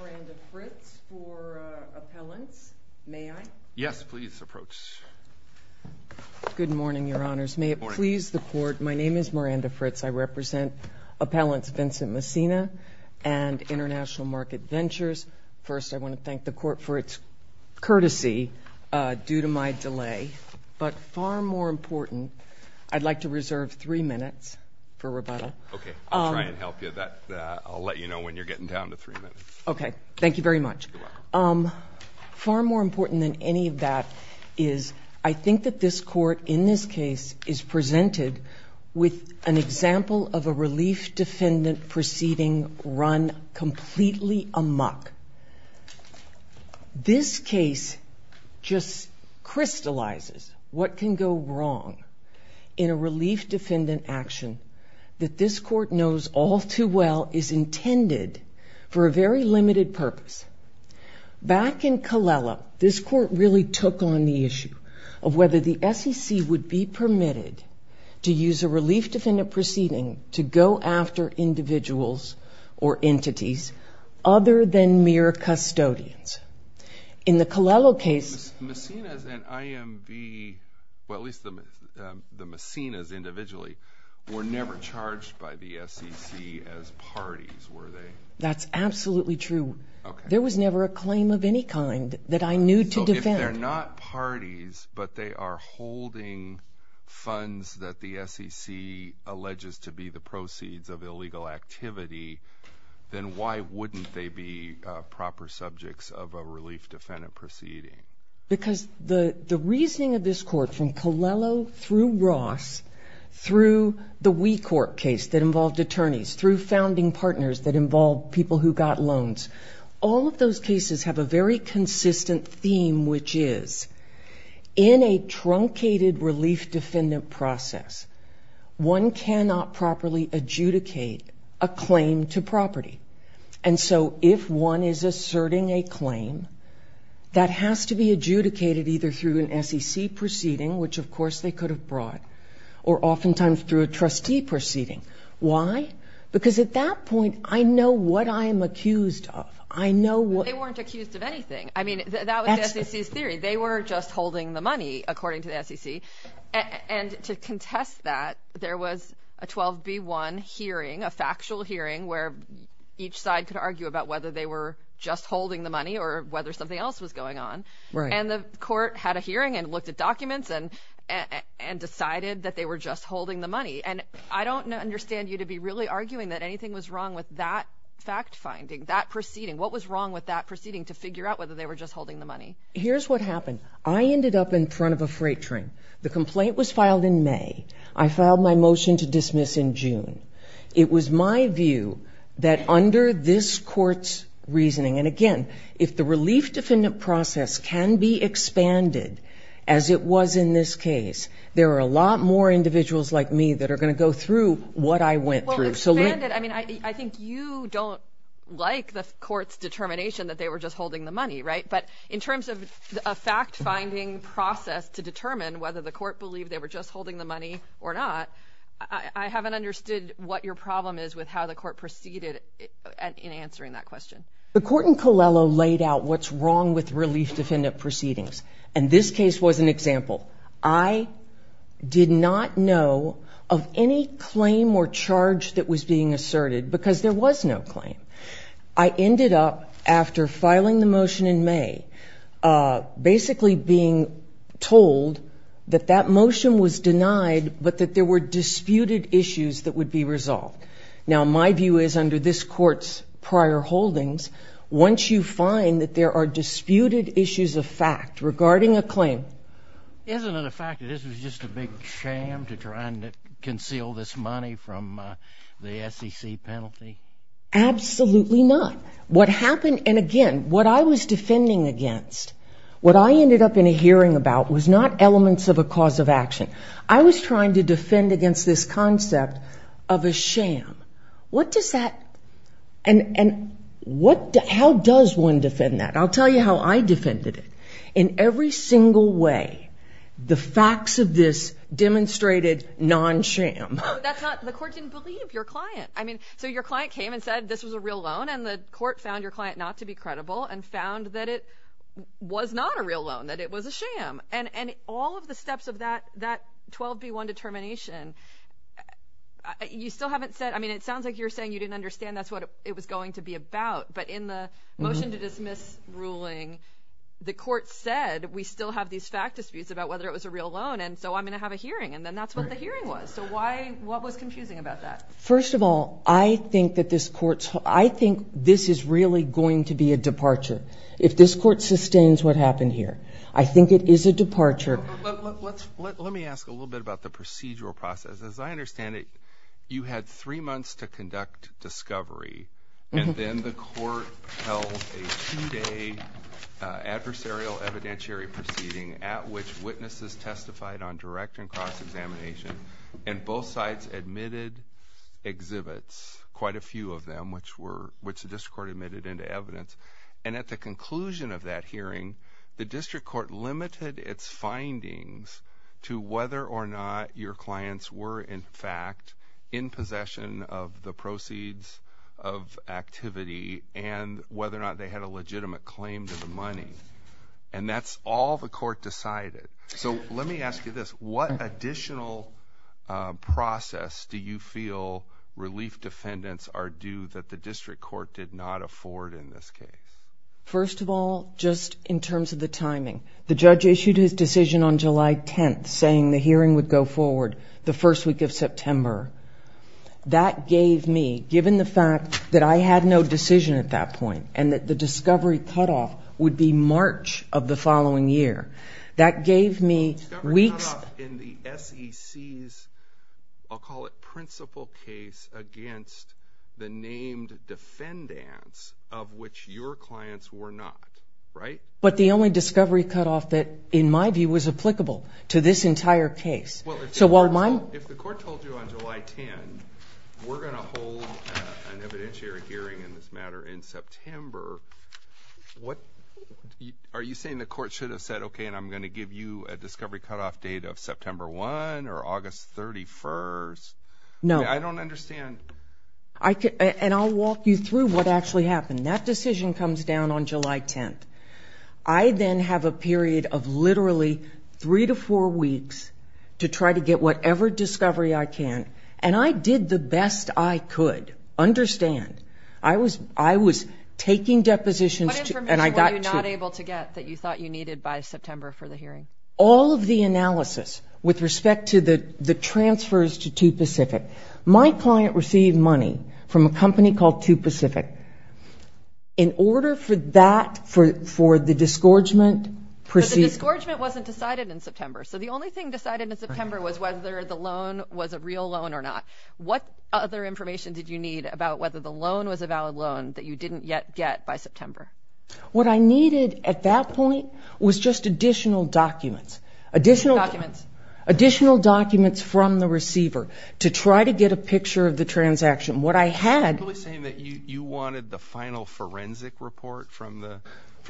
Maranda Fritz for Appellants. May I? Yes, please. Approach. Good morning, Your Honors. May it please the Court, my name is Maranda Fritz. I represent Appellants Vincent Messina and International Market Ventures. First, I want to thank the Court for its courtesy due to my delay. But far more important, I'd like to reserve three minutes for rebuttal. Okay. I'll try and help you. I'll let you know when you're getting down to three minutes. Okay. Thank you very much. You're welcome. Far more important than any of that is I think that this Court in this case is presented with an example of a relief defendant proceeding run completely amok. This case just crystallizes what can go wrong in a relief defendant action that this Court knows all too well is intended for a very limited purpose. Back in Colella, this Court really took on the issue of whether the SEC would be permitted to use a relief defendant proceeding to go after individuals or entities other than mere custodians. In the Colella case... Messina's and IMV, well at least the Messina's individually, were never charged by the SEC as parties, were they? That's absolutely true. Okay. There was never a claim of any kind that I knew to defend. So if they're not parties but they are holding funds that the SEC alleges to be the proceeds of illegal activity, then why wouldn't they be proper subjects of a relief defendant proceeding? Because the reasoning of this Court from Colella through Ross, through the WeCourt case that involved attorneys, through founding partners that involved people who got loans, all of those cases have a very consistent theme which is in a truncated relief defendant process, one cannot properly adjudicate a claim to property. And so if one is asserting a claim, that has to be adjudicated either through an SEC proceeding, which of course they could have brought, or oftentimes through a trustee proceeding. Why? Because at that point, I know what I am accused of. I know what... They weren't accused of anything. I mean, that was the SEC's theory. They were just holding the money, according to the SEC. And to contest that, there was a 12B1 hearing, a factual hearing, where each side could argue about whether they were just holding the money or whether something else was going on. And the Court had a hearing and looked at documents and decided that they were just holding the money. And I don't understand you to be really arguing that anything was wrong with that fact-finding, that proceeding. What was wrong with that proceeding to figure out whether they were just holding the money? Here's what happened. I ended up in front of a freight train. The complaint was filed in May. I filed my motion to dismiss in June. It was my view that under this Court's reasoning, and again, if the relief defendant process can be expanded as it was in this case, there are a lot more individuals like me that are going to go through what I went through. Well, expanded. I mean, I think you don't like the Court's determination that they were just holding the money, right? But in terms of a fact-finding process to determine whether the Court believed they were just holding the money or not, I haven't understood what your problem is with how the Court proceeded in answering that question. The Court in Colello laid out what's wrong with relief defendant proceedings. And this case was an example. I did not know of any claim or charge that was being asserted because there was no claim. I ended up, after filing the motion in May, basically being told that that motion was denied but that there were disputed issues that would be resolved. Now, my view is, under this Court's prior holdings, once you find that there are disputed issues of fact regarding a claim... Isn't it a fact that this was just a big sham to try and conceal this money from the SEC penalty? Absolutely not. What happened, and again, what I was defending against, what I ended up in a hearing about was not elements of a cause of action. I was trying to defend against this concept of a sham. What does that... And how does one defend that? I'll tell you how I defended it. In every single way, the facts of this demonstrated non-sham. But that's not... The Court didn't believe your client. I mean, so your client came and said this was a real loan, and the Court found your client not to be credible and found that it was not a real loan, that it was a sham. And all of the steps of that 12B1 determination, you still haven't said... I mean, it sounds like you're saying you didn't understand that's what it was going to be about. But in the motion to dismiss ruling, the Court said we still have these fact disputes about whether it was a real loan, and so I'm going to have a hearing, and then that's what the hearing was. So why... What was confusing about that? First of all, I think that this Court's... I think this is really going to be a departure if this Court sustains what happened here. I think it is a departure. Let me ask a little bit about the procedural process. As I understand it, you had three months to conduct discovery, and then the Court held a two-day adversarial evidentiary proceeding at which witnesses testified on direct and cross-examination, and both sides admitted exhibits, quite a few of them, which the District Court admitted into evidence. And at the conclusion of that hearing, the District Court limited its findings to whether or not your clients were, in fact, in possession of the proceeds of activity and whether or So let me ask you this. What additional process do you feel relief defendants are due that the District Court did not afford in this case? First of all, just in terms of the timing, the judge issued his decision on July 10th, saying the hearing would go forward the first week of September. That gave me, given the fact that I had no decision at that point, and that the discovery cutoff would be March of the following year, that gave me weeks... The discovery cutoff in the SEC's, I'll call it, principal case against the named defendants of which your clients were not, right? But the only discovery cutoff that, in my view, was applicable to this entire case. Well, if the Court told you on July 10th, we're going to hold an evidentiary hearing in this matter in September, are you saying the Court should have said, okay, and I'm going to give you a discovery cutoff date of September 1 or August 31st? No. I don't understand. And I'll walk you through what actually happened. That decision comes down on July 10th. I then have a period of literally three to four weeks to try to get whatever discovery I can. And I did the best I could. Understand. I was taking depositions... What information were you not able to get that you thought you needed by September for the hearing? All of the analysis with respect to the transfers to 2Pacific. My client received money from a company called 2Pacific. In order for that, for the disgorgement... But the disgorgement wasn't decided in September. So the only thing decided in September was whether the loan was a real loan or not. What other information did you need about whether the loan was a valid loan that you didn't yet get by September? What I needed at that point was just additional documents. Additional documents from the receiver to try to get a picture of the transaction. What I had... Are you saying that you wanted the final forensic report from the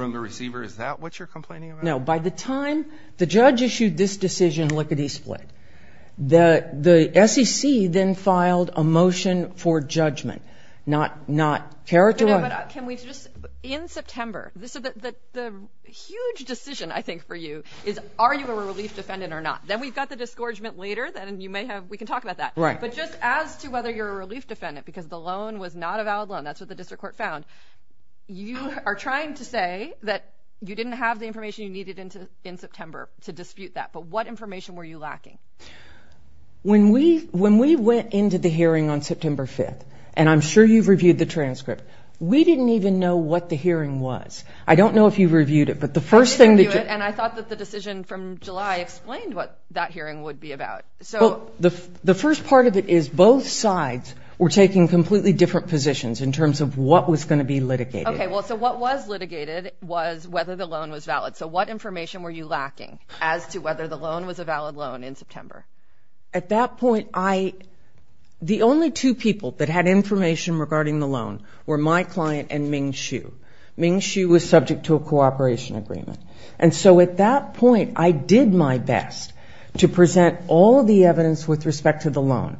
receiver? Is that what you're complaining about? No. By the time the judge issued this decision, lookit, he split. The SEC then filed a motion for judgment. Not characterized... Can we just... In September... The huge decision, I think, for you is are you a relief defendant or not? Then we've got the disgorgement later. Then you may have... We can talk about that. Right. But just as to whether you're a relief defendant because the loan was not a valid loan, that's what the district court found. You are trying to say that you didn't have the information you needed in September to dispute that, but what information were you lacking? When we went into the hearing on September 5th, and I'm sure you've reviewed the transcript, we didn't even know what the hearing was. I don't know if you reviewed it, but the first thing... I did review it, and I thought that the decision from July explained what that hearing would be about. The first part of it is both sides were taking completely different positions in terms of what was going to be litigated. Okay, well, so what was litigated was whether the loan was valid. So what information were you lacking as to whether the loan was a valid loan in September? At that point, I... The only two people that had information regarding the loan were my client and Ming Xu. Ming Xu was subject to a cooperation agreement. And so at that point, I did my best to present all the evidence with respect to the loan.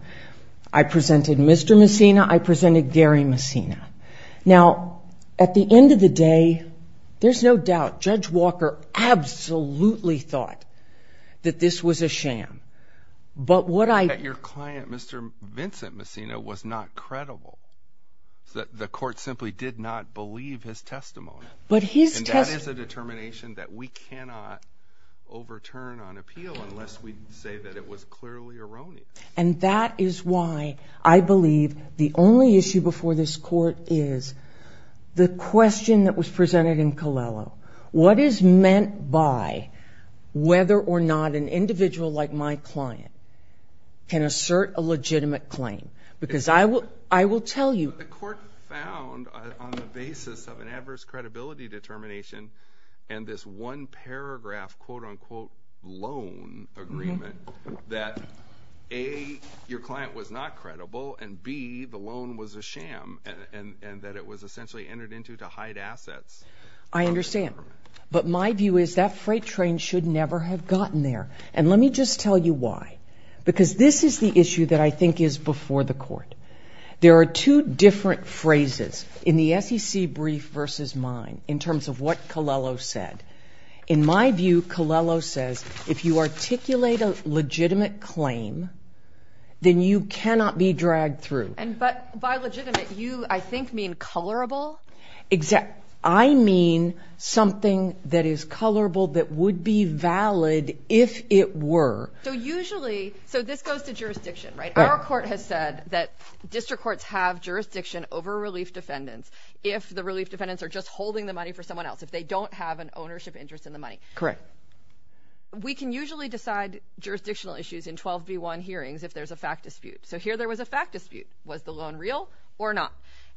I presented Mr. Messina. I presented Gary Messina. Now, at the end of the day, there's no doubt Judge Walker absolutely thought that this was a sham, but what I... But your client, Mr. Vincent Messina, was not credible. The court simply did not believe his testimony. But his testimony... And that is a determination that we cannot overturn on appeal unless we say that it was clearly erroneous. And that is why I believe the only issue before this Court is the question that was presented in Colello. What is meant by whether or not an individual like my client can assert a legitimate claim? Because I will tell you... The court found on the basis of an adverse credibility determination and this one-paragraph quote-unquote loan agreement that A, your client was not credible, and B, the loan was a sham and that it was essentially entered into to hide assets. I understand. But my view is that freight train should never have gotten there. And let me just tell you why. Because this is the issue that I think is before the Court. There are two different phrases in the SEC brief versus mine in terms of what Colello said. In my view, Colello says, if you articulate a legitimate claim, then you cannot be dragged through. But by legitimate, you, I think, mean colorable? Exactly. I mean something that is colorable that would be valid if it were. So usually... So this goes to jurisdiction, right? Our court has said that district courts have jurisdiction over relief defendants if the relief defendants are just holding the money for someone else, if they don't have an ownership interest in the money. Correct. We can usually decide jurisdictional issues in 12b1 hearings if there's a fact dispute. So here there was a fact dispute. Was the loan real or not?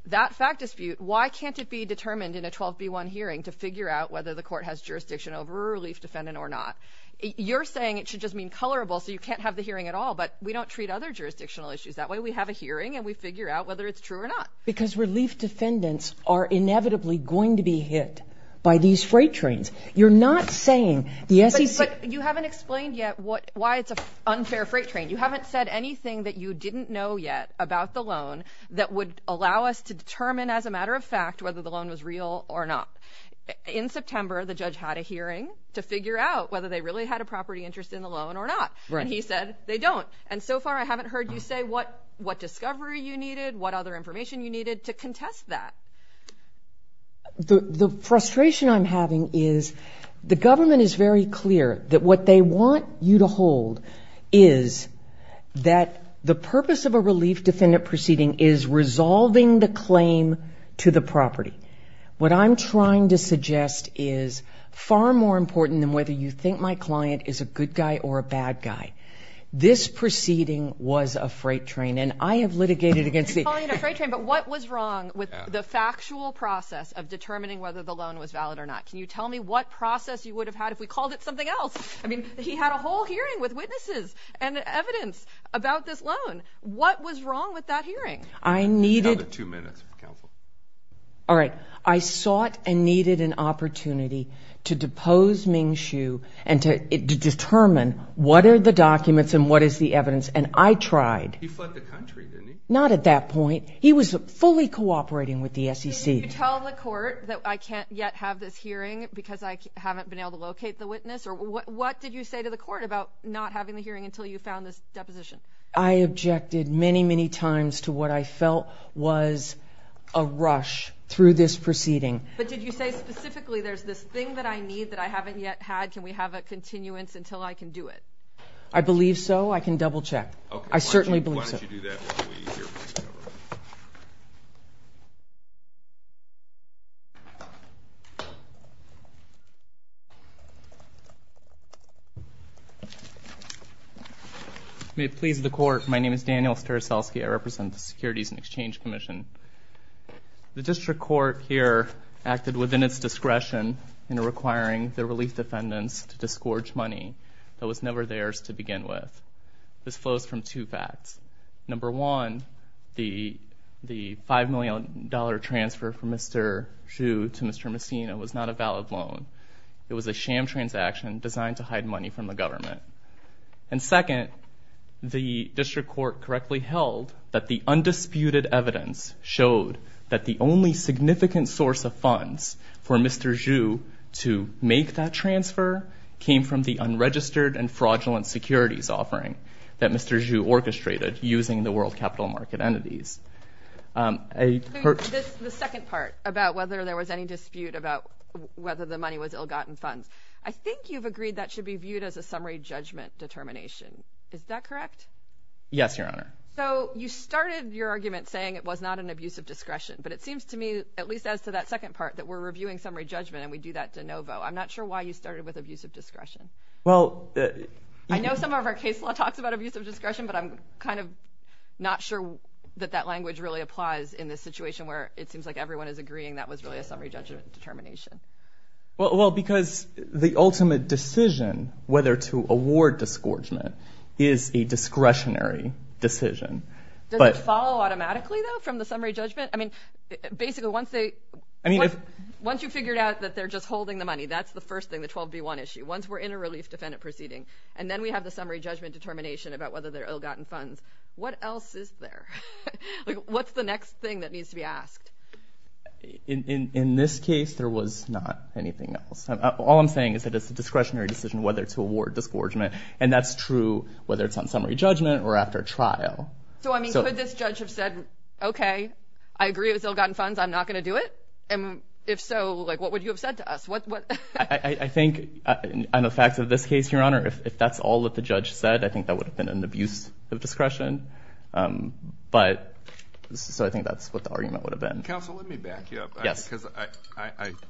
That fact dispute, why can't it be determined in a 12b1 hearing to figure out whether the court has jurisdiction over a relief defendant or not? You're saying it should just mean colorable so you can't have the hearing at all, but we don't treat other jurisdictional issues. That way we have a hearing and we figure out whether it's true or not. Because relief defendants are inevitably going to be hit by these freight trains. You're not saying the SEC... But you haven't explained yet why it's an unfair freight train. You haven't said anything that you didn't know yet about the loan that would allow us to determine as a matter of fact whether the loan was real or not. In September, the judge had a hearing to figure out whether they really had a property interest in the loan or not. And he said they don't. And so far I haven't heard you say what discovery you needed, what other information you needed to contest that. The frustration I'm having is the government is very clear that what they want you to hold is that the purpose of a relief defendant proceeding is resolving the claim to the property. What I'm trying to suggest is far more important than whether you think my client is a good guy or a bad guy. This proceeding was a freight train, and I have litigated against the... You're calling it a freight train, but what was wrong with the factual process of determining whether the loan was valid or not? Can you tell me what process you would have had if we called it something else? I mean, he had a whole hearing with witnesses and evidence about this loan. What was wrong with that hearing? I needed... Another two minutes, counsel. All right. I sought and needed an opportunity to depose Ming Hsu and to determine what are the documents and what is the evidence, and I tried. He fled the country, didn't he? Not at that point. He was fully cooperating with the SEC. Did you tell the court that I can't yet have this hearing because I haven't been able to locate the witness? Or what did you say to the court about not having the hearing until you found this deposition? I objected many, many times to what I felt was a rush through this proceeding. But did you say specifically there's this thing that I need that I haven't yet had? Can we have a continuance until I can do it? I believe so. I can double-check. I certainly believe so. Why did you do that? May it please the court, my name is Daniel Staroselsky. I represent the Securities and Exchange Commission. The district court here acted within its discretion in requiring the relief defendants to disgorge money that was never theirs to begin with. This flows from two facts. Number one, the $5 million transfer from Mr. Zhu to Mr. Messina was not a valid loan. It was a sham transaction designed to hide money from the government. And second, the district court correctly held that the undisputed evidence showed that the only significant source of funds for Mr. Zhu to make that transfer came from the unregistered and fraudulent securities offering that Mr. Zhu orchestrated using the world capital market entities. The second part about whether there was any dispute about whether the money was ill-gotten funds, I think you've agreed that should be viewed as a summary judgment determination. Is that correct? Yes, Your Honor. So you started your argument saying it was not an abuse of discretion, but it seems to me at least as to that second part that we're reviewing summary judgment and we do that de novo. I'm not sure why you started with abuse of discretion. Well, I know some of our case law talks about abuse of discretion, but I'm kind of not sure that that language really applies in this situation where it seems like everyone is agreeing that was really a summary judgment determination. Well, because the ultimate decision whether to award disgorgement is a discretionary decision. Does it follow automatically, though, from the summary judgment? I mean, basically, once you figured out that they're just holding the money, that's the first thing, the 12B1 issue. Once we're in a relief defendant proceeding and then we have the summary judgment determination about whether they're ill-gotten funds, what else is there? What's the next thing that needs to be asked? In this case, there was not anything else. All I'm saying is that it's a discretionary decision whether to award disgorgement, and that's true whether it's on summary judgment or after trial. So, I mean, could this judge have said, OK, I agree it was ill-gotten funds, I'm not going to do it? And if so, like, what would you have said to us? I think on the facts of this case, Your Honor, if that's all that the judge said, I think that would have been an abuse of discretion. But so I think that's what the argument would have been. Counsel, let me back you up. Yes. Because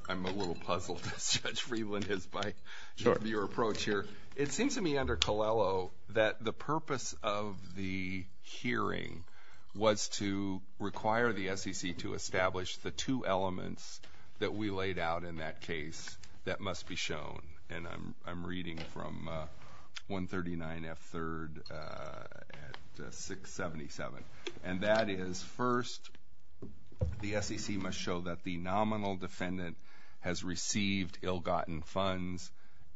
I'm a little puzzled as Judge Freeland is by your approach here. It seems to me under Colello that the purpose of the hearing was to require the SEC to establish the two elements that we laid out in that case that must be shown. And I'm reading from 139F3rd at 677. And that is, first, the SEC must show that the nominal defendant has received ill-gotten funds,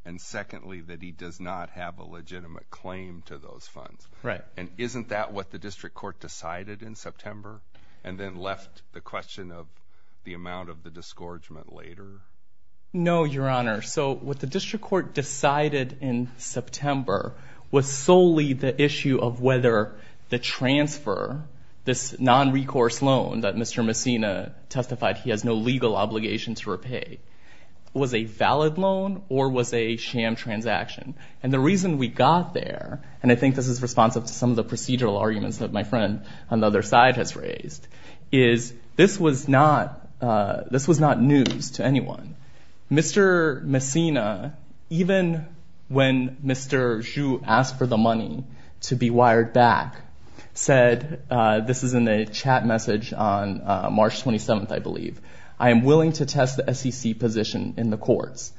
and secondly, that he does not have a legitimate claim to those funds. Right. And isn't that what the district court decided in September and then left the question of the amount of the disgorgement later? No, Your Honor. So what the district court decided in September was solely the issue of whether the transfer, this non-recourse loan that Mr. Messina testified he has no legal obligation to repay, was a valid loan or was a sham transaction. And the reason we got there, and I think this is responsive to some of the procedural arguments that my friend on the other side has raised, is this was not news to anyone. Mr. Messina, even when Mr. Xu asked for the money to be wired back, said, this is in a chat message on March 27th, I believe, I am willing to test the SEC position in the courts.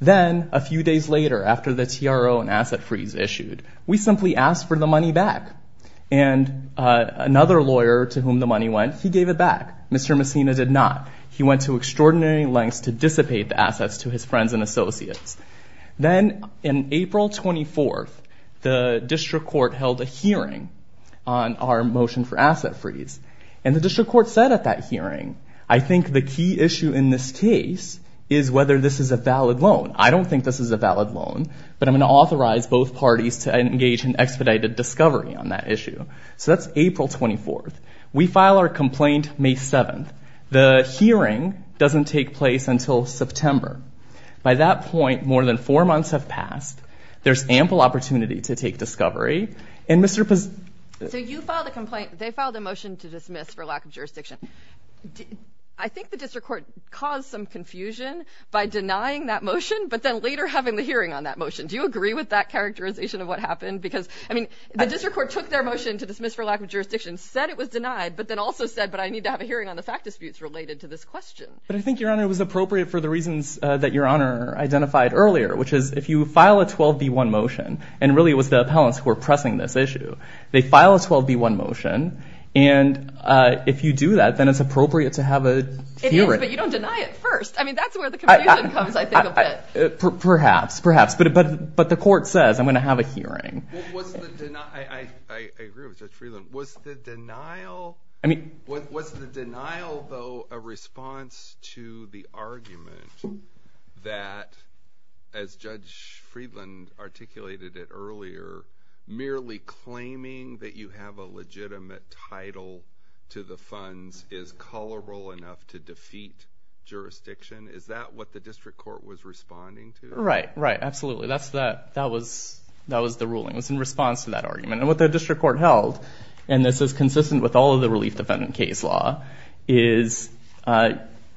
Then, a few days later, after the TRO and asset freeze issued, we simply asked for the money back. And another lawyer to whom the money went, he gave it back. Mr. Messina did not. He went to extraordinary lengths to dissipate the assets to his friends and associates. Then, in April 24th, the district court held a hearing on our motion for asset freeze. And the district court said at that hearing, I think the key issue in this case is whether this is a valid loan. I don't think this is a valid loan, but I'm going to authorize both parties to engage in expedited discovery on that issue. So that's April 24th. We file our complaint May 7th. The hearing doesn't take place until September. By that point, more than four months have passed. There's ample opportunity to take discovery. So you filed a complaint. They filed a motion to dismiss for lack of jurisdiction. I think the district court caused some confusion by denying that motion, but then later having the hearing on that motion. Do you agree with that characterization of what happened? Because, I mean, the district court took their motion to dismiss for lack of jurisdiction, said it was denied, but then also said, but I need to have a hearing on the fact disputes related to this question. But I think, Your Honor, it was appropriate for the reasons that Your Honor identified earlier, which is if you file a 12B1 motion, and really it was the appellants who were pressing this issue, they file a 12B1 motion, and if you do that, then it's appropriate to have a hearing. It is, but you don't deny it first. I mean, that's where the confusion comes, I think, a bit. Perhaps, perhaps. But the court says, I'm going to have a hearing. I agree with Judge Friedland. Was the denial, though, a response to the argument that, as Judge Friedland articulated it earlier, merely claiming that you have a legitimate title to the funds is colorable enough to defeat jurisdiction? Is that what the district court was responding to? Right, right, absolutely. That was the ruling. It was in response to that argument. And what the district court held, and this is consistent with all of the relief defendant case law, is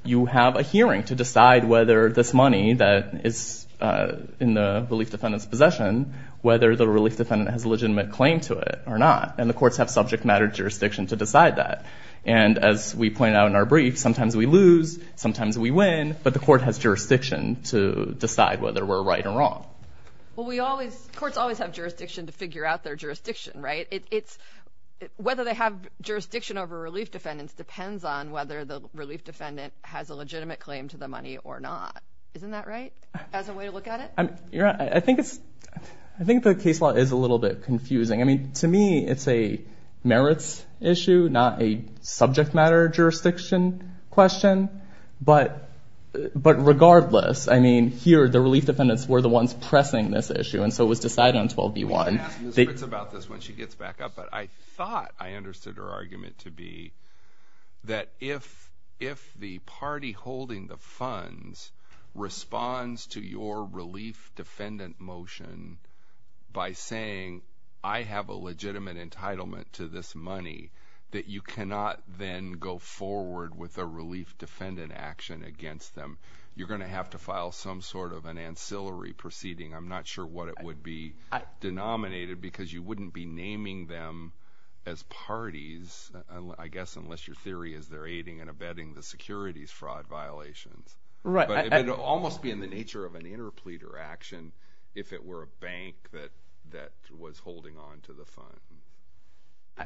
you have a hearing to decide whether this money that is in the relief defendant's possession, whether the relief defendant has a legitimate claim to it or not. And the courts have subject matter jurisdiction to decide that. And as we point out in our brief, sometimes we lose, sometimes we win, but the court has jurisdiction to decide whether we're right or wrong. Well, courts always have jurisdiction to figure out their jurisdiction, right? Whether they have jurisdiction over relief defendants depends on whether the relief defendant has a legitimate claim to the money or not. Isn't that right, as a way to look at it? I think the case law is a little bit confusing. I mean, to me, it's a merits issue, not a subject matter jurisdiction question. But regardless, I mean, here the relief defendants were the ones pressing this issue, and so it was decided on 12b-1. We can ask Ms. Ritz about this when she gets back up, but I thought I understood her argument to be that if the party holding the funds responds to your relief defendant motion by saying, I have a legitimate entitlement to this money, that you cannot then go forward with a relief defendant action against them. You're going to have to file some sort of an ancillary proceeding. I'm not sure what it would be denominated because you wouldn't be naming them as parties, I guess, unless your theory is they're aiding and abetting the securities fraud violations. Right. But it would almost be in the nature of an interpleader action if it were a bank that was holding on to the funds.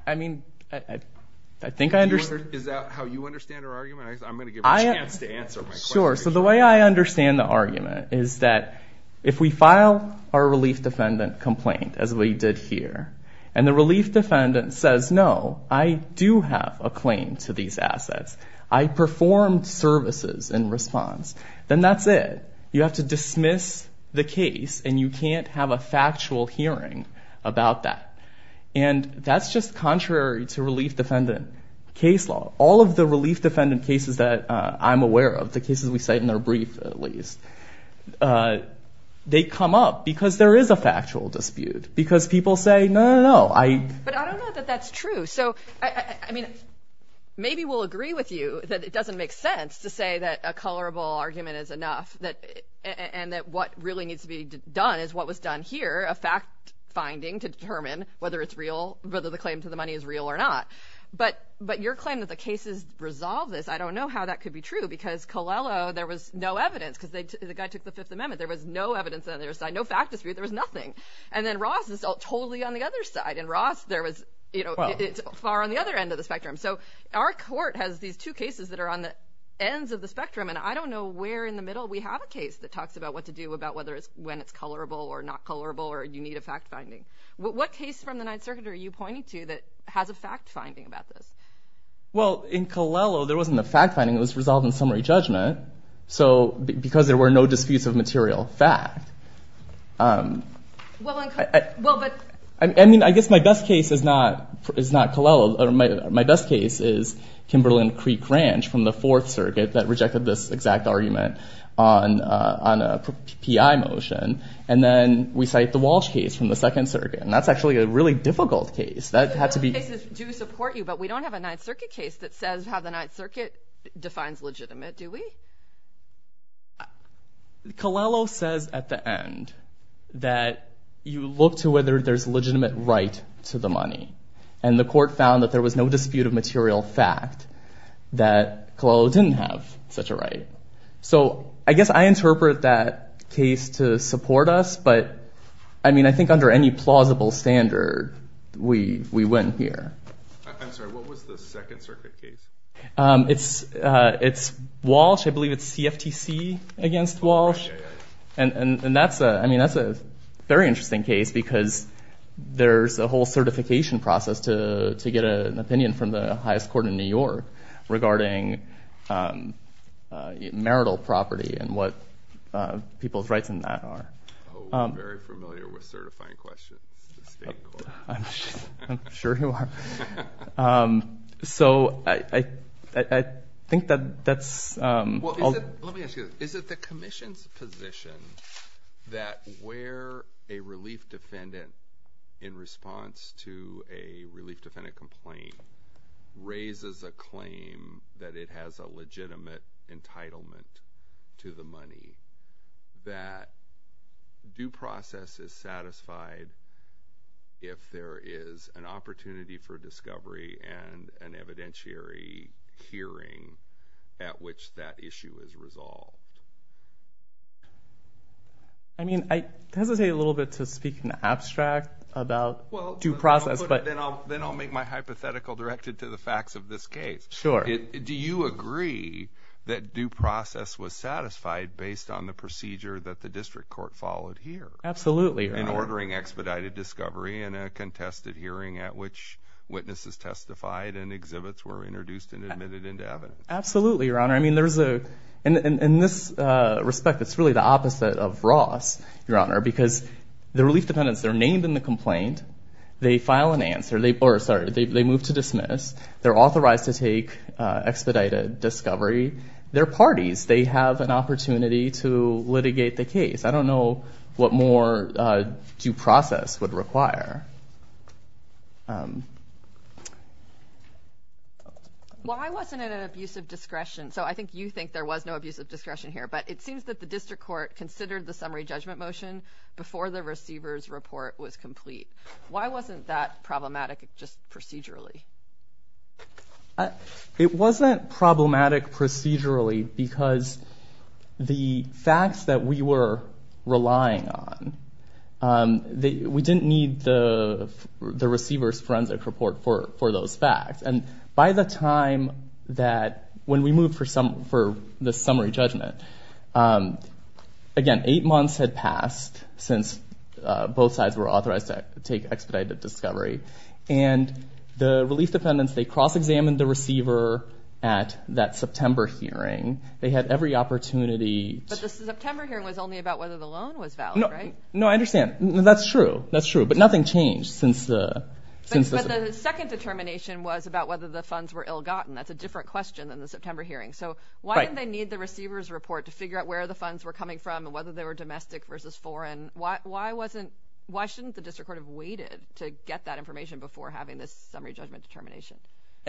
I mean, I think I understand. Is that how you understand her argument? I'm going to give her a chance to answer my question. Sure. So the way I understand the argument is that if we file our relief defendant complaint, as we did here, and the relief defendant says, no, I do have a claim to these assets, I performed services in response, then that's it. You have to dismiss the case, and you can't have a factual hearing about that. And that's just contrary to relief defendant case law. All of the relief defendant cases that I'm aware of, the cases we cite in our brief, at least, they come up because there is a factual dispute, because people say, no, no, no. But I don't know that that's true. So, I mean, maybe we'll agree with you that it doesn't make sense to say that a colorable argument is enough and that what really needs to be done is what was done here, a fact-finding to determine whether it's real, whether the claim to the money is real or not. But your claim that the cases resolve this, I don't know how that could be true, because Colello, there was no evidence, because the guy took the Fifth Amendment. There was no evidence on their side, no fact dispute. There was nothing. And then Ross is totally on the other side. And Ross, there was, you know, it's far on the other end of the spectrum. So our court has these two cases that are on the ends of the spectrum, and I don't know where in the middle we have a case that talks about what to do about whether it's when it's colorable or not colorable or you need a fact-finding. What case from the Ninth Circuit are you pointing to that has a fact-finding about this? Well, in Colello, there wasn't a fact-finding. It was resolved in summary judgment, because there were no disputes of material fact. I mean, I guess my best case is not Colello. My best case is Kimberlin Creek Ranch from the Fourth Circuit that rejected this exact argument on a P.I. motion. And then we cite the Walsh case from the Second Circuit, and that's actually a really difficult case. Those cases do support you, but we don't have a Ninth Circuit case that says how the Ninth Circuit defines legitimate, do we? Colello says at the end that you look to whether there's legitimate right to the money, and the court found that there was no dispute of material fact that Colello didn't have such a right. So I guess I interpret that case to support us, but, I mean, I think under any plausible standard, we win here. I'm sorry, what was the Second Circuit case? It's Walsh. I believe it's CFTC against Walsh. And that's a very interesting case, because there's a whole certification process to get an opinion from the highest court in New York regarding marital property and what people's rights in that are. Oh, we're very familiar with certifying questions in the state court. I'm sure you are. So I think that that's all. Well, let me ask you, is it the commission's position that where a relief defendant, in response to a relief defendant complaint, raises a claim that it has a legitimate entitlement to the money, that due process is satisfied if there is an opportunity for discovery and an evidentiary hearing at which that issue is resolved? I mean, I hesitate a little bit to speak in the abstract about due process. Well, then I'll make my hypothetical directed to the facts of this case. Sure. Do you agree that due process was satisfied based on the procedure that the district court followed here? Absolutely, Your Honor. In ordering expedited discovery and a contested hearing at which witnesses testified and exhibits were introduced and admitted into evidence? Absolutely, Your Honor. I mean, in this respect, it's really the opposite of Ross, Your Honor, because the relief defendants, they're named in the complaint. They file an answer. Or, sorry, they move to dismiss. They're authorized to take expedited discovery. They're parties. They have an opportunity to litigate the case. I don't know what more due process would require. Why wasn't it an abuse of discretion? So I think you think there was no abuse of discretion here, but it seems that the district court considered the summary judgment motion before the receiver's report was complete. Why wasn't that problematic just procedurally? It wasn't problematic procedurally because the facts that we were relying on, we didn't need the receiver's forensic report for those facts. And by the time that when we moved for the summary judgment, again, eight months had passed since both sides were authorized to take expedited discovery. And the relief defendants, they cross-examined the receiver at that September hearing. They had every opportunity. But the September hearing was only about whether the loan was valid, right? No, I understand. That's true. That's true. But nothing changed since the – But the second determination was about whether the funds were ill gotten. That's a different question than the September hearing. So why didn't they need the receiver's report to figure out where the funds were coming from and whether they were domestic versus foreign? Why wasn't – why shouldn't the district court have waited to get that information before having this summary judgment determination?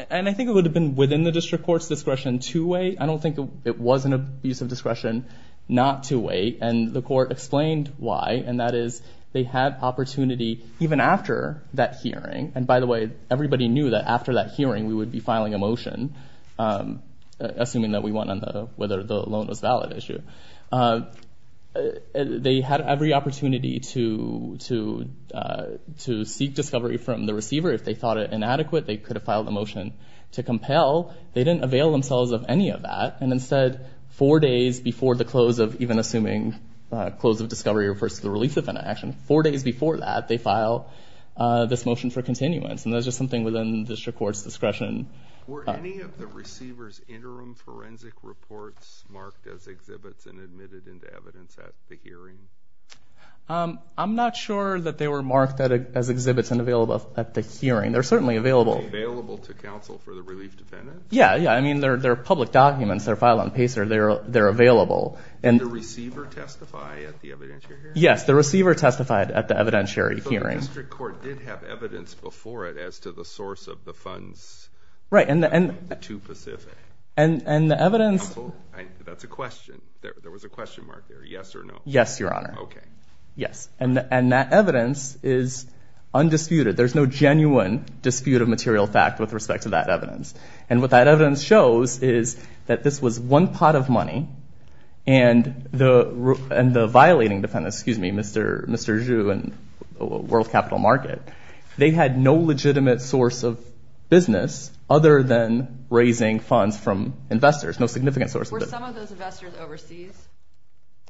And I think it would have been within the district court's discretion to wait. I don't think it was an abuse of discretion not to wait. And the court explained why, and that is they had opportunity even after that hearing. And by the way, everybody knew that after that hearing we would be filing a motion, assuming that we went on whether the loan was a valid issue. They had every opportunity to seek discovery from the receiver. If they thought it inadequate, they could have filed a motion to compel. They didn't avail themselves of any of that. And instead, four days before the close of even assuming close of discovery refers to the release of an action, four days before that, they file this motion for continuance. And that's just something within the district court's discretion. Were any of the receivers' interim forensic reports marked as exhibits and admitted into evidence at the hearing? I'm not sure that they were marked as exhibits and available at the hearing. They're certainly available. Available to counsel for the relief defendants? Yeah, yeah. I mean, they're public documents. They're filed on PACER. They're available. Did the receiver testify at the evidentiary hearing? Yes, the receiver testified at the evidentiary hearing. But the district court did have evidence before it as to the source of the funds. Right, and the evidence. That's a question. There was a question mark there, yes or no. Yes, Your Honor. Okay. Yes, and that evidence is undisputed. There's no genuine dispute of material fact with respect to that evidence. And what that evidence shows is that this was one pot of money and the violating defendants, excuse me, Mr. Zhu and World Capital Market, they had no legitimate source of business other than raising funds from investors, no significant source of business. Were some of those investors overseas?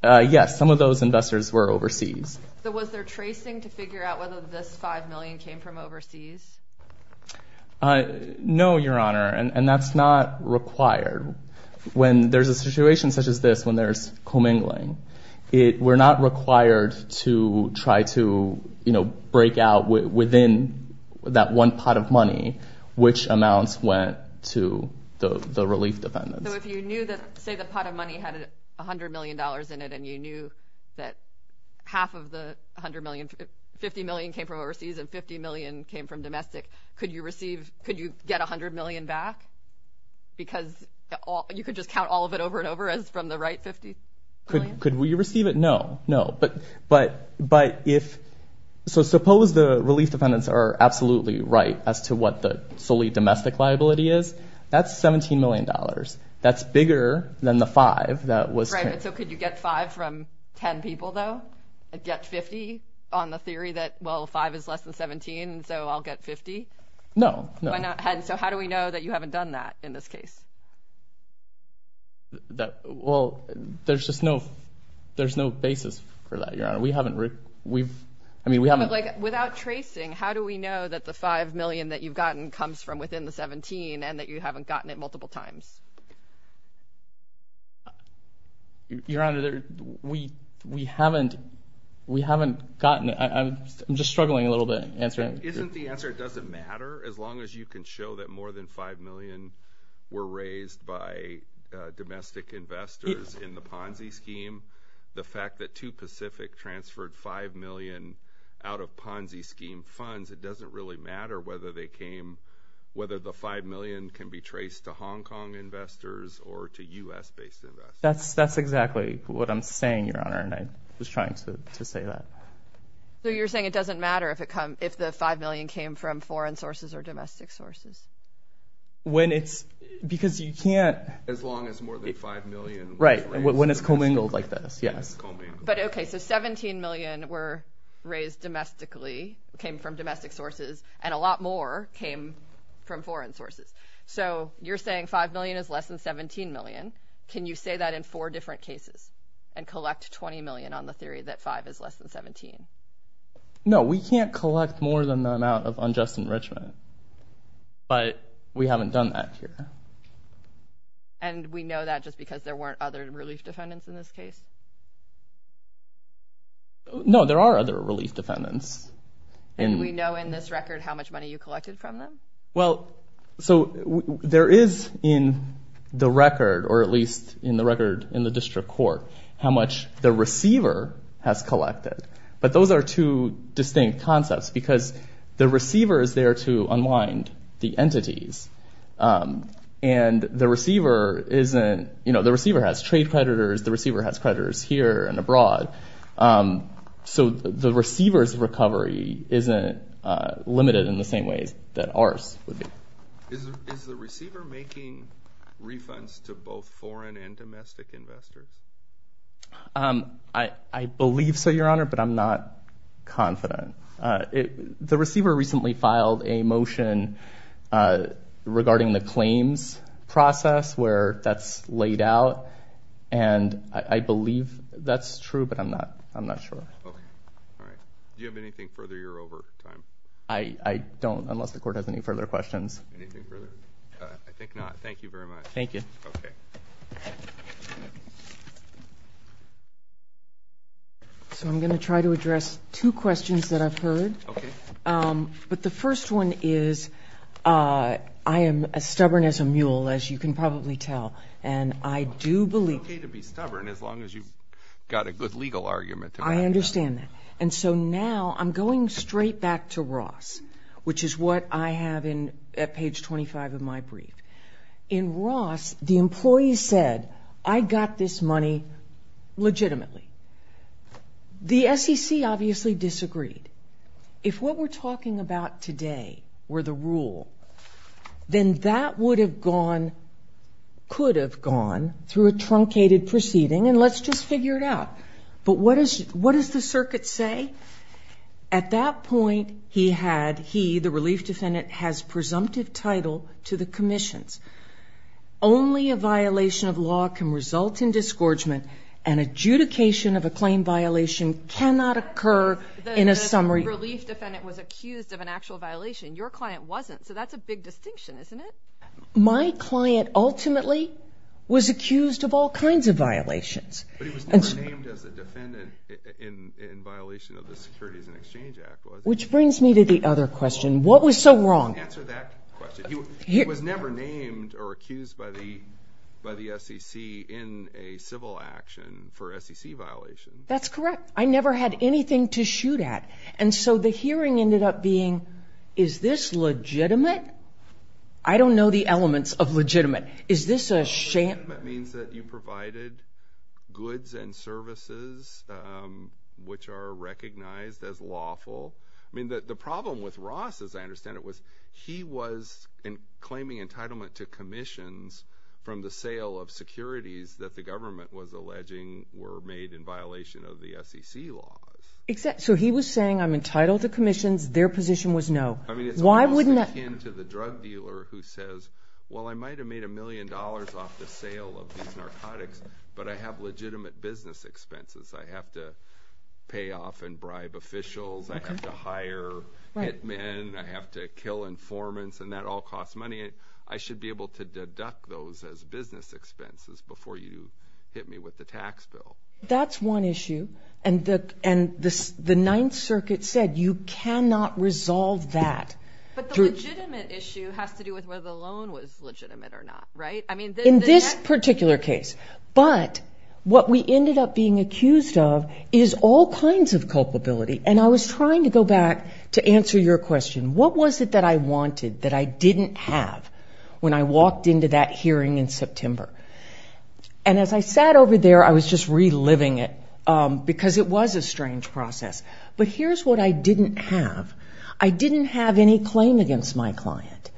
Yes, some of those investors were overseas. So was there tracing to figure out whether this $5 million came from overseas? No, Your Honor, and that's not required. When there's a situation such as this, when there's commingling, we're not required to try to break out within that one pot of money which amounts went to the relief defendants. So if you knew that, say, the pot of money had $100 million in it and you knew that half of the $50 million came from overseas and $50 million came from domestic, could you get $100 million back? Because you could just count all of it over and over as from the right $50 million? Could we receive it? No, no. But if, so suppose the relief defendants are absolutely right as to what the solely domestic liability is, that's $17 million. That's bigger than the 5 that was transferred. Right, but so could you get 5 from 10 people, though? Get 50 on the theory that, well, 5 is less than 17, so I'll get 50? No, no. So how do we know that you haven't done that in this case? Well, there's just no basis for that, Your Honor. We haven't. Without tracing, how do we know that the 5 million that you've gotten comes from within the 17 and that you haven't gotten it multiple times? Your Honor, we haven't gotten it. I'm just struggling a little bit answering. Isn't the answer, does it matter? As long as you can show that more than 5 million were raised by domestic investors in the Ponzi scheme, the fact that Two Pacific transferred 5 million out of Ponzi scheme funds, it doesn't really matter whether the 5 million can be traced to Hong Kong investors or to U.S.-based investors. That's exactly what I'm saying, Your Honor, and I was trying to say that. So you're saying it doesn't matter if the 5 million came from foreign sources or domestic sources? When it's, because you can't. As long as more than 5 million was raised. Right, when it's commingled like this, yes. But, okay, so 17 million were raised domestically, came from domestic sources, and a lot more came from foreign sources. So you're saying 5 million is less than 17 million. Can you say that in four different cases and collect 20 million on the theory that 5 is less than 17? No, we can't collect more than the amount of unjust enrichment. But we haven't done that here. And we know that just because there weren't other relief defendants in this case? No, there are other relief defendants. And we know in this record how much money you collected from them? Well, so there is in the record, or at least in the record in the district court, how much the receiver has collected. But those are two distinct concepts because the receiver is there to unwind the entities. And the receiver isn't, you know, the receiver has trade creditors, the receiver has creditors here and abroad. So the receiver's recovery isn't limited in the same way that ours would be. Is the receiver making refunds to both foreign and domestic investors? I believe so, Your Honor, but I'm not confident. The receiver recently filed a motion regarding the claims process where that's laid out, and I believe that's true, but I'm not sure. Okay, all right. Do you have anything further? You're over time. I don't, unless the Court has any further questions. Anything further? I think not. Thank you very much. Thank you. Okay. So I'm going to try to address two questions that I've heard. Okay. But the first one is I am as stubborn as a mule, as you can probably tell. And I do believe that. It's okay to be stubborn as long as you've got a good legal argument to back it up. I understand that. And so now I'm going straight back to Ross, which is what I have at page 25 of my brief. In Ross, the employee said, I got this money legitimately. The SEC obviously disagreed. If what we're talking about today were the rule, then that would have gone, could have gone through a truncated proceeding, and let's just figure it out. But what does the circuit say? At that point, he had, he, the relief defendant, has presumptive title to the commissions. Only a violation of law can result in disgorgement, and adjudication of a claim violation cannot occur in a summary. The relief defendant was accused of an actual violation. Your client wasn't. So that's a big distinction, isn't it? My client ultimately was accused of all kinds of violations. But he was never named as a defendant in violation of the Securities and Exchange Act. Which brings me to the other question. What was so wrong? Answer that question. He was never named or accused by the SEC in a civil action for SEC violation. That's correct. I never had anything to shoot at. And so the hearing ended up being, is this legitimate? I don't know the elements of legitimate. Is this a sham? Legitimate means that you provided goods and services which are recognized as lawful. I mean, the problem with Ross, as I understand it, was he was claiming entitlement to commissions from the sale of securities that the government was alleging were made in violation of the SEC laws. So he was saying, I'm entitled to commissions. Their position was no. I mean, it's almost akin to the drug dealer who says, well, I might have made a million dollars off the sale of these narcotics, but I have legitimate business expenses. I have to pay off and bribe officials. I have to hire hit men. I have to kill informants. And that all costs money. I should be able to deduct those as business expenses before you hit me with the tax bill. That's one issue. And the Ninth Circuit said you cannot resolve that. But the legitimate issue has to do with whether the loan was legitimate or not, right? In this particular case. But what we ended up being accused of is all kinds of culpability. And I was trying to go back to answer your question. What was it that I wanted that I didn't have when I walked into that hearing in September? And as I sat over there, I was just reliving it because it was a strange process. But here's what I didn't have. I didn't have any claim against my client.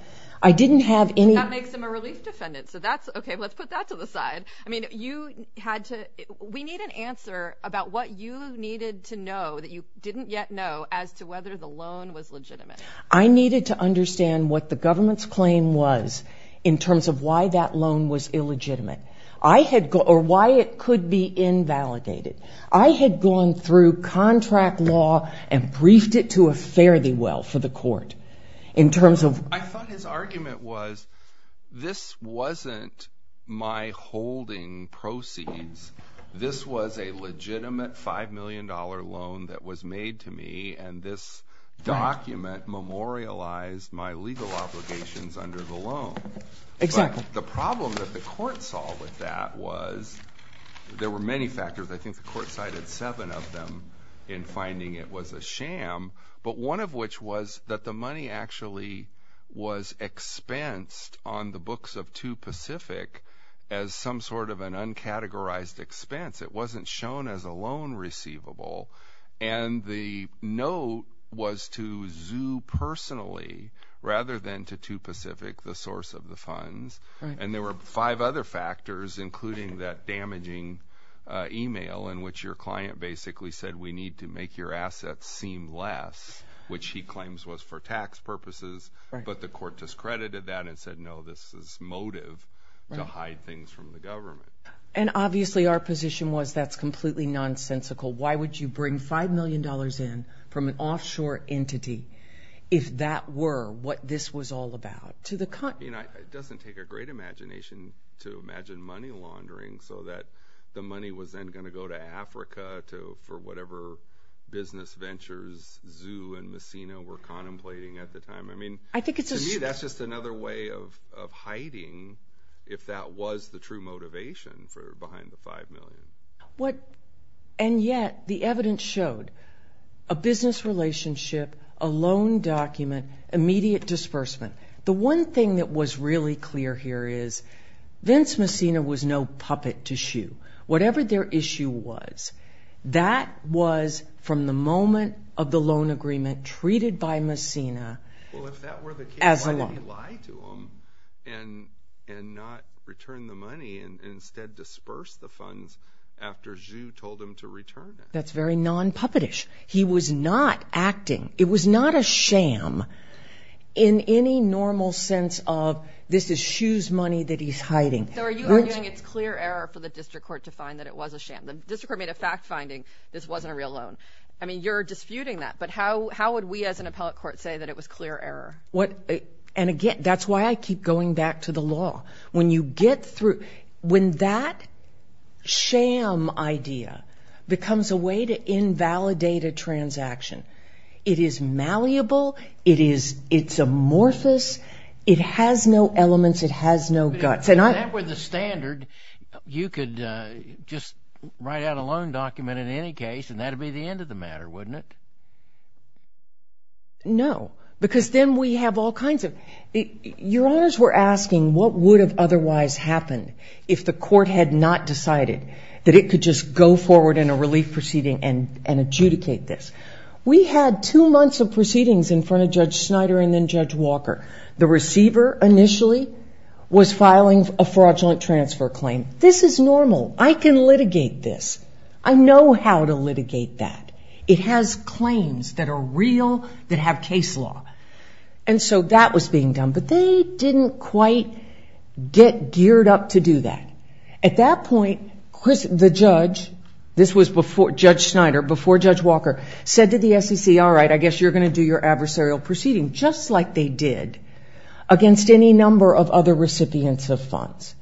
I didn't have any. That makes him a relief defendant, so that's okay. Let's put that to the side. I mean, you had to – we need an answer about what you needed to know that you didn't yet know as to whether the loan was legitimate. I needed to understand what the government's claim was in terms of why that loan was illegitimate or why it could be invalidated. I had gone through contract law and briefed it to a fairly well for the court in terms of – I thought his argument was this wasn't my holding proceeds. This was a legitimate $5 million loan that was made to me, and this document memorialized my legal obligations under the loan. Exactly. But the problem that the court solved with that was there were many factors. I think the court cited seven of them in finding it was a sham, but one of which was that the money actually was expensed on the books of 2 Pacific as some sort of an uncategorized expense. It wasn't shown as a loan receivable, and the note was to Zhu personally rather than to 2 Pacific, the source of the funds. And there were five other factors, including that damaging email in which your client basically said we need to make your assets seem less, which he claims was for tax purposes. But the court discredited that and said, no, this is motive to hide things from the government. And obviously our position was that's completely nonsensical. Why would you bring $5 million in from an offshore entity if that were what this was all about to the country? It doesn't take a great imagination to imagine money laundering so that the money was then going to go to Africa for whatever business ventures Zhu and Messina were contemplating at the time. To me, that's just another way of hiding if that was the true motivation for behind the $5 million. And yet the evidence showed a business relationship, a loan document, immediate disbursement. The one thing that was really clear here is Vince Messina was no puppet to Zhu. Whatever their issue was, that was from the moment of the loan agreement treated by Messina as a loan. Well, if that were the case, why did he lie to them and not return the money and instead disperse the funds after Zhu told him to return it? That's very non-puppetish. He was not acting. It was not a sham in any normal sense of this is Zhu's money that he's hiding. So are you arguing it's clear error for the district court to find that it was a sham? The district court made a fact finding this wasn't a real loan. I mean, you're disputing that, but how would we as an appellate court say that it was clear error? And again, that's why I keep going back to the law. When that sham idea becomes a way to invalidate a transaction, it is malleable, it's amorphous, it has no elements, it has no guts. If that were the standard, you could just write out a loan document in any case and that would be the end of the matter, wouldn't it? No, because then we have all kinds of – your honors were asking what would have otherwise happened if the court had not decided that it could just go forward in a relief proceeding and adjudicate this. We had two months of proceedings in front of Judge Snyder and then Judge Walker. The receiver initially was filing a fraudulent transfer claim. This is normal. I can litigate this. I know how to litigate that. It has claims that are real that have case law. And so that was being done. But they didn't quite get geared up to do that. At that point, the judge – this was before Judge Snyder, before Judge Walker – said to the SEC, all right, I guess you're going to do your adversarial proceeding just like they did against any number of other recipients of funds.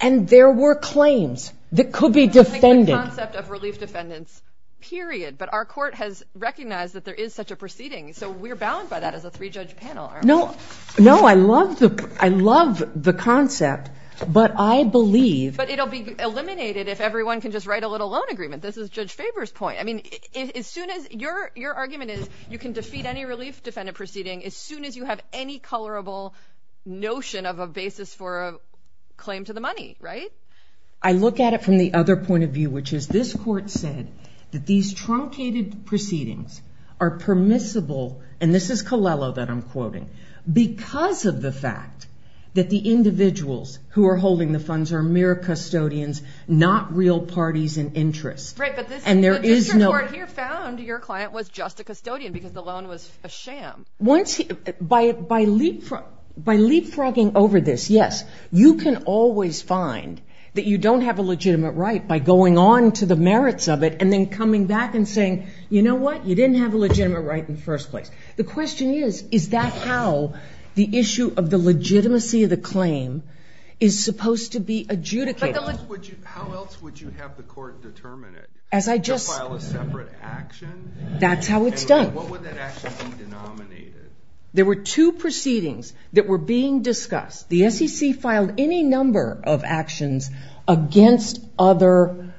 And there were claims that could be defended. I think the concept of relief defendants, period. But our court has recognized that there is such a proceeding, so we're bound by that as a three-judge panel, aren't we? No. No, I love the concept, but I believe – But it will be eliminated if everyone can just write a little loan agreement. This is Judge Faber's point. I mean, as soon as – your argument is you can defeat any relief defendant proceeding as soon as you have any colorable notion of a basis for a claim to the money, right? I look at it from the other point of view, which is this court said that these truncated proceedings are permissible – and this is Colello that I'm quoting – because of the fact that the individuals who are holding the funds are mere custodians, not real parties in interest. Right, but the district court here found your client was just a custodian because the loan was a sham. By leapfrogging over this, yes, you can always find that you don't have a legitimate right by going on to the merits of it and then coming back and saying, you know what, you didn't have a legitimate right in the first place. The question is, is that how the issue of the legitimacy of the claim is supposed to be adjudicated? How else would you have the court determine it? As I just – To file a separate action? That's how it's done. And what would that action be denominated? There were two proceedings that were being discussed. The SEC filed any number of actions against other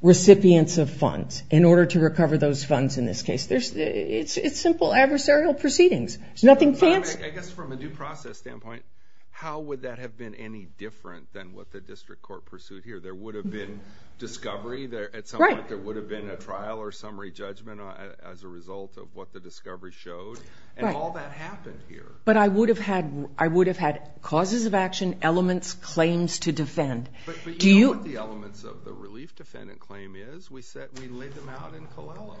recipients of funds in order to recover those funds in this case. It's simple adversarial proceedings. Nothing fancy. I guess from a due process standpoint, how would that have been any different than what the district court pursued here? There would have been discovery. At some point there would have been a trial or summary judgment as a result of what the discovery showed, and all that happened here. But I would have had causes of action, elements, claims to defend. But do you know what the elements of the relief defendant claim is? We said we laid them out in Coelho.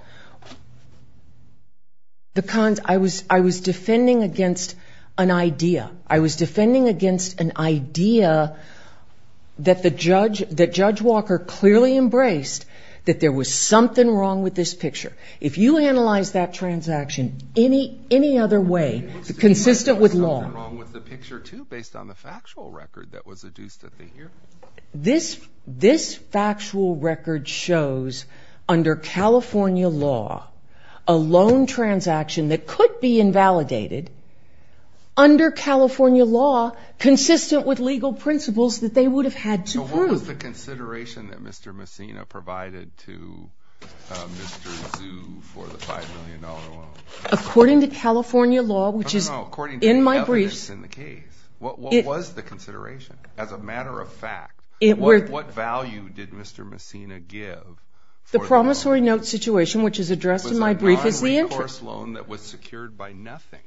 I was defending against an idea. I was defending against an idea that Judge Walker clearly embraced, that there was something wrong with this picture. If you analyze that transaction any other way, consistent with law. There was something wrong with the picture, too, based on the factual record that was adduced at the hearing. This factual record shows, under California law, a loan transaction that could be invalidated under California law, What was the consideration that Mr. Messina provided to Mr. Zhu for the $5 million loan? According to California law, which is in my briefs. According to the evidence in the case, what was the consideration? As a matter of fact, what value did Mr. Messina give? The promissory note situation, which is addressed in my brief, is the interest. It was a non-recourse loan that was secured by nothing.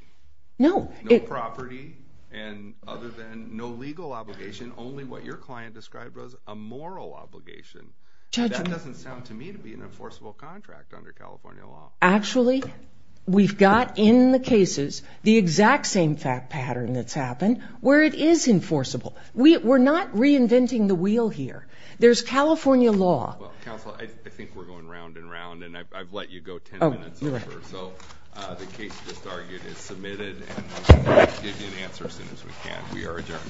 No. No property, and other than no legal obligation, only what your client described as a moral obligation. That doesn't sound to me to be an enforceable contract under California law. Actually, we've got in the cases the exact same pattern that's happened, where it is enforceable. We're not reinventing the wheel here. There's California law. Counsel, I think we're going round and round, and I've let you go 10 minutes over. So the case just argued is submitted, and we'll give you an answer as soon as we can. We are adjourned.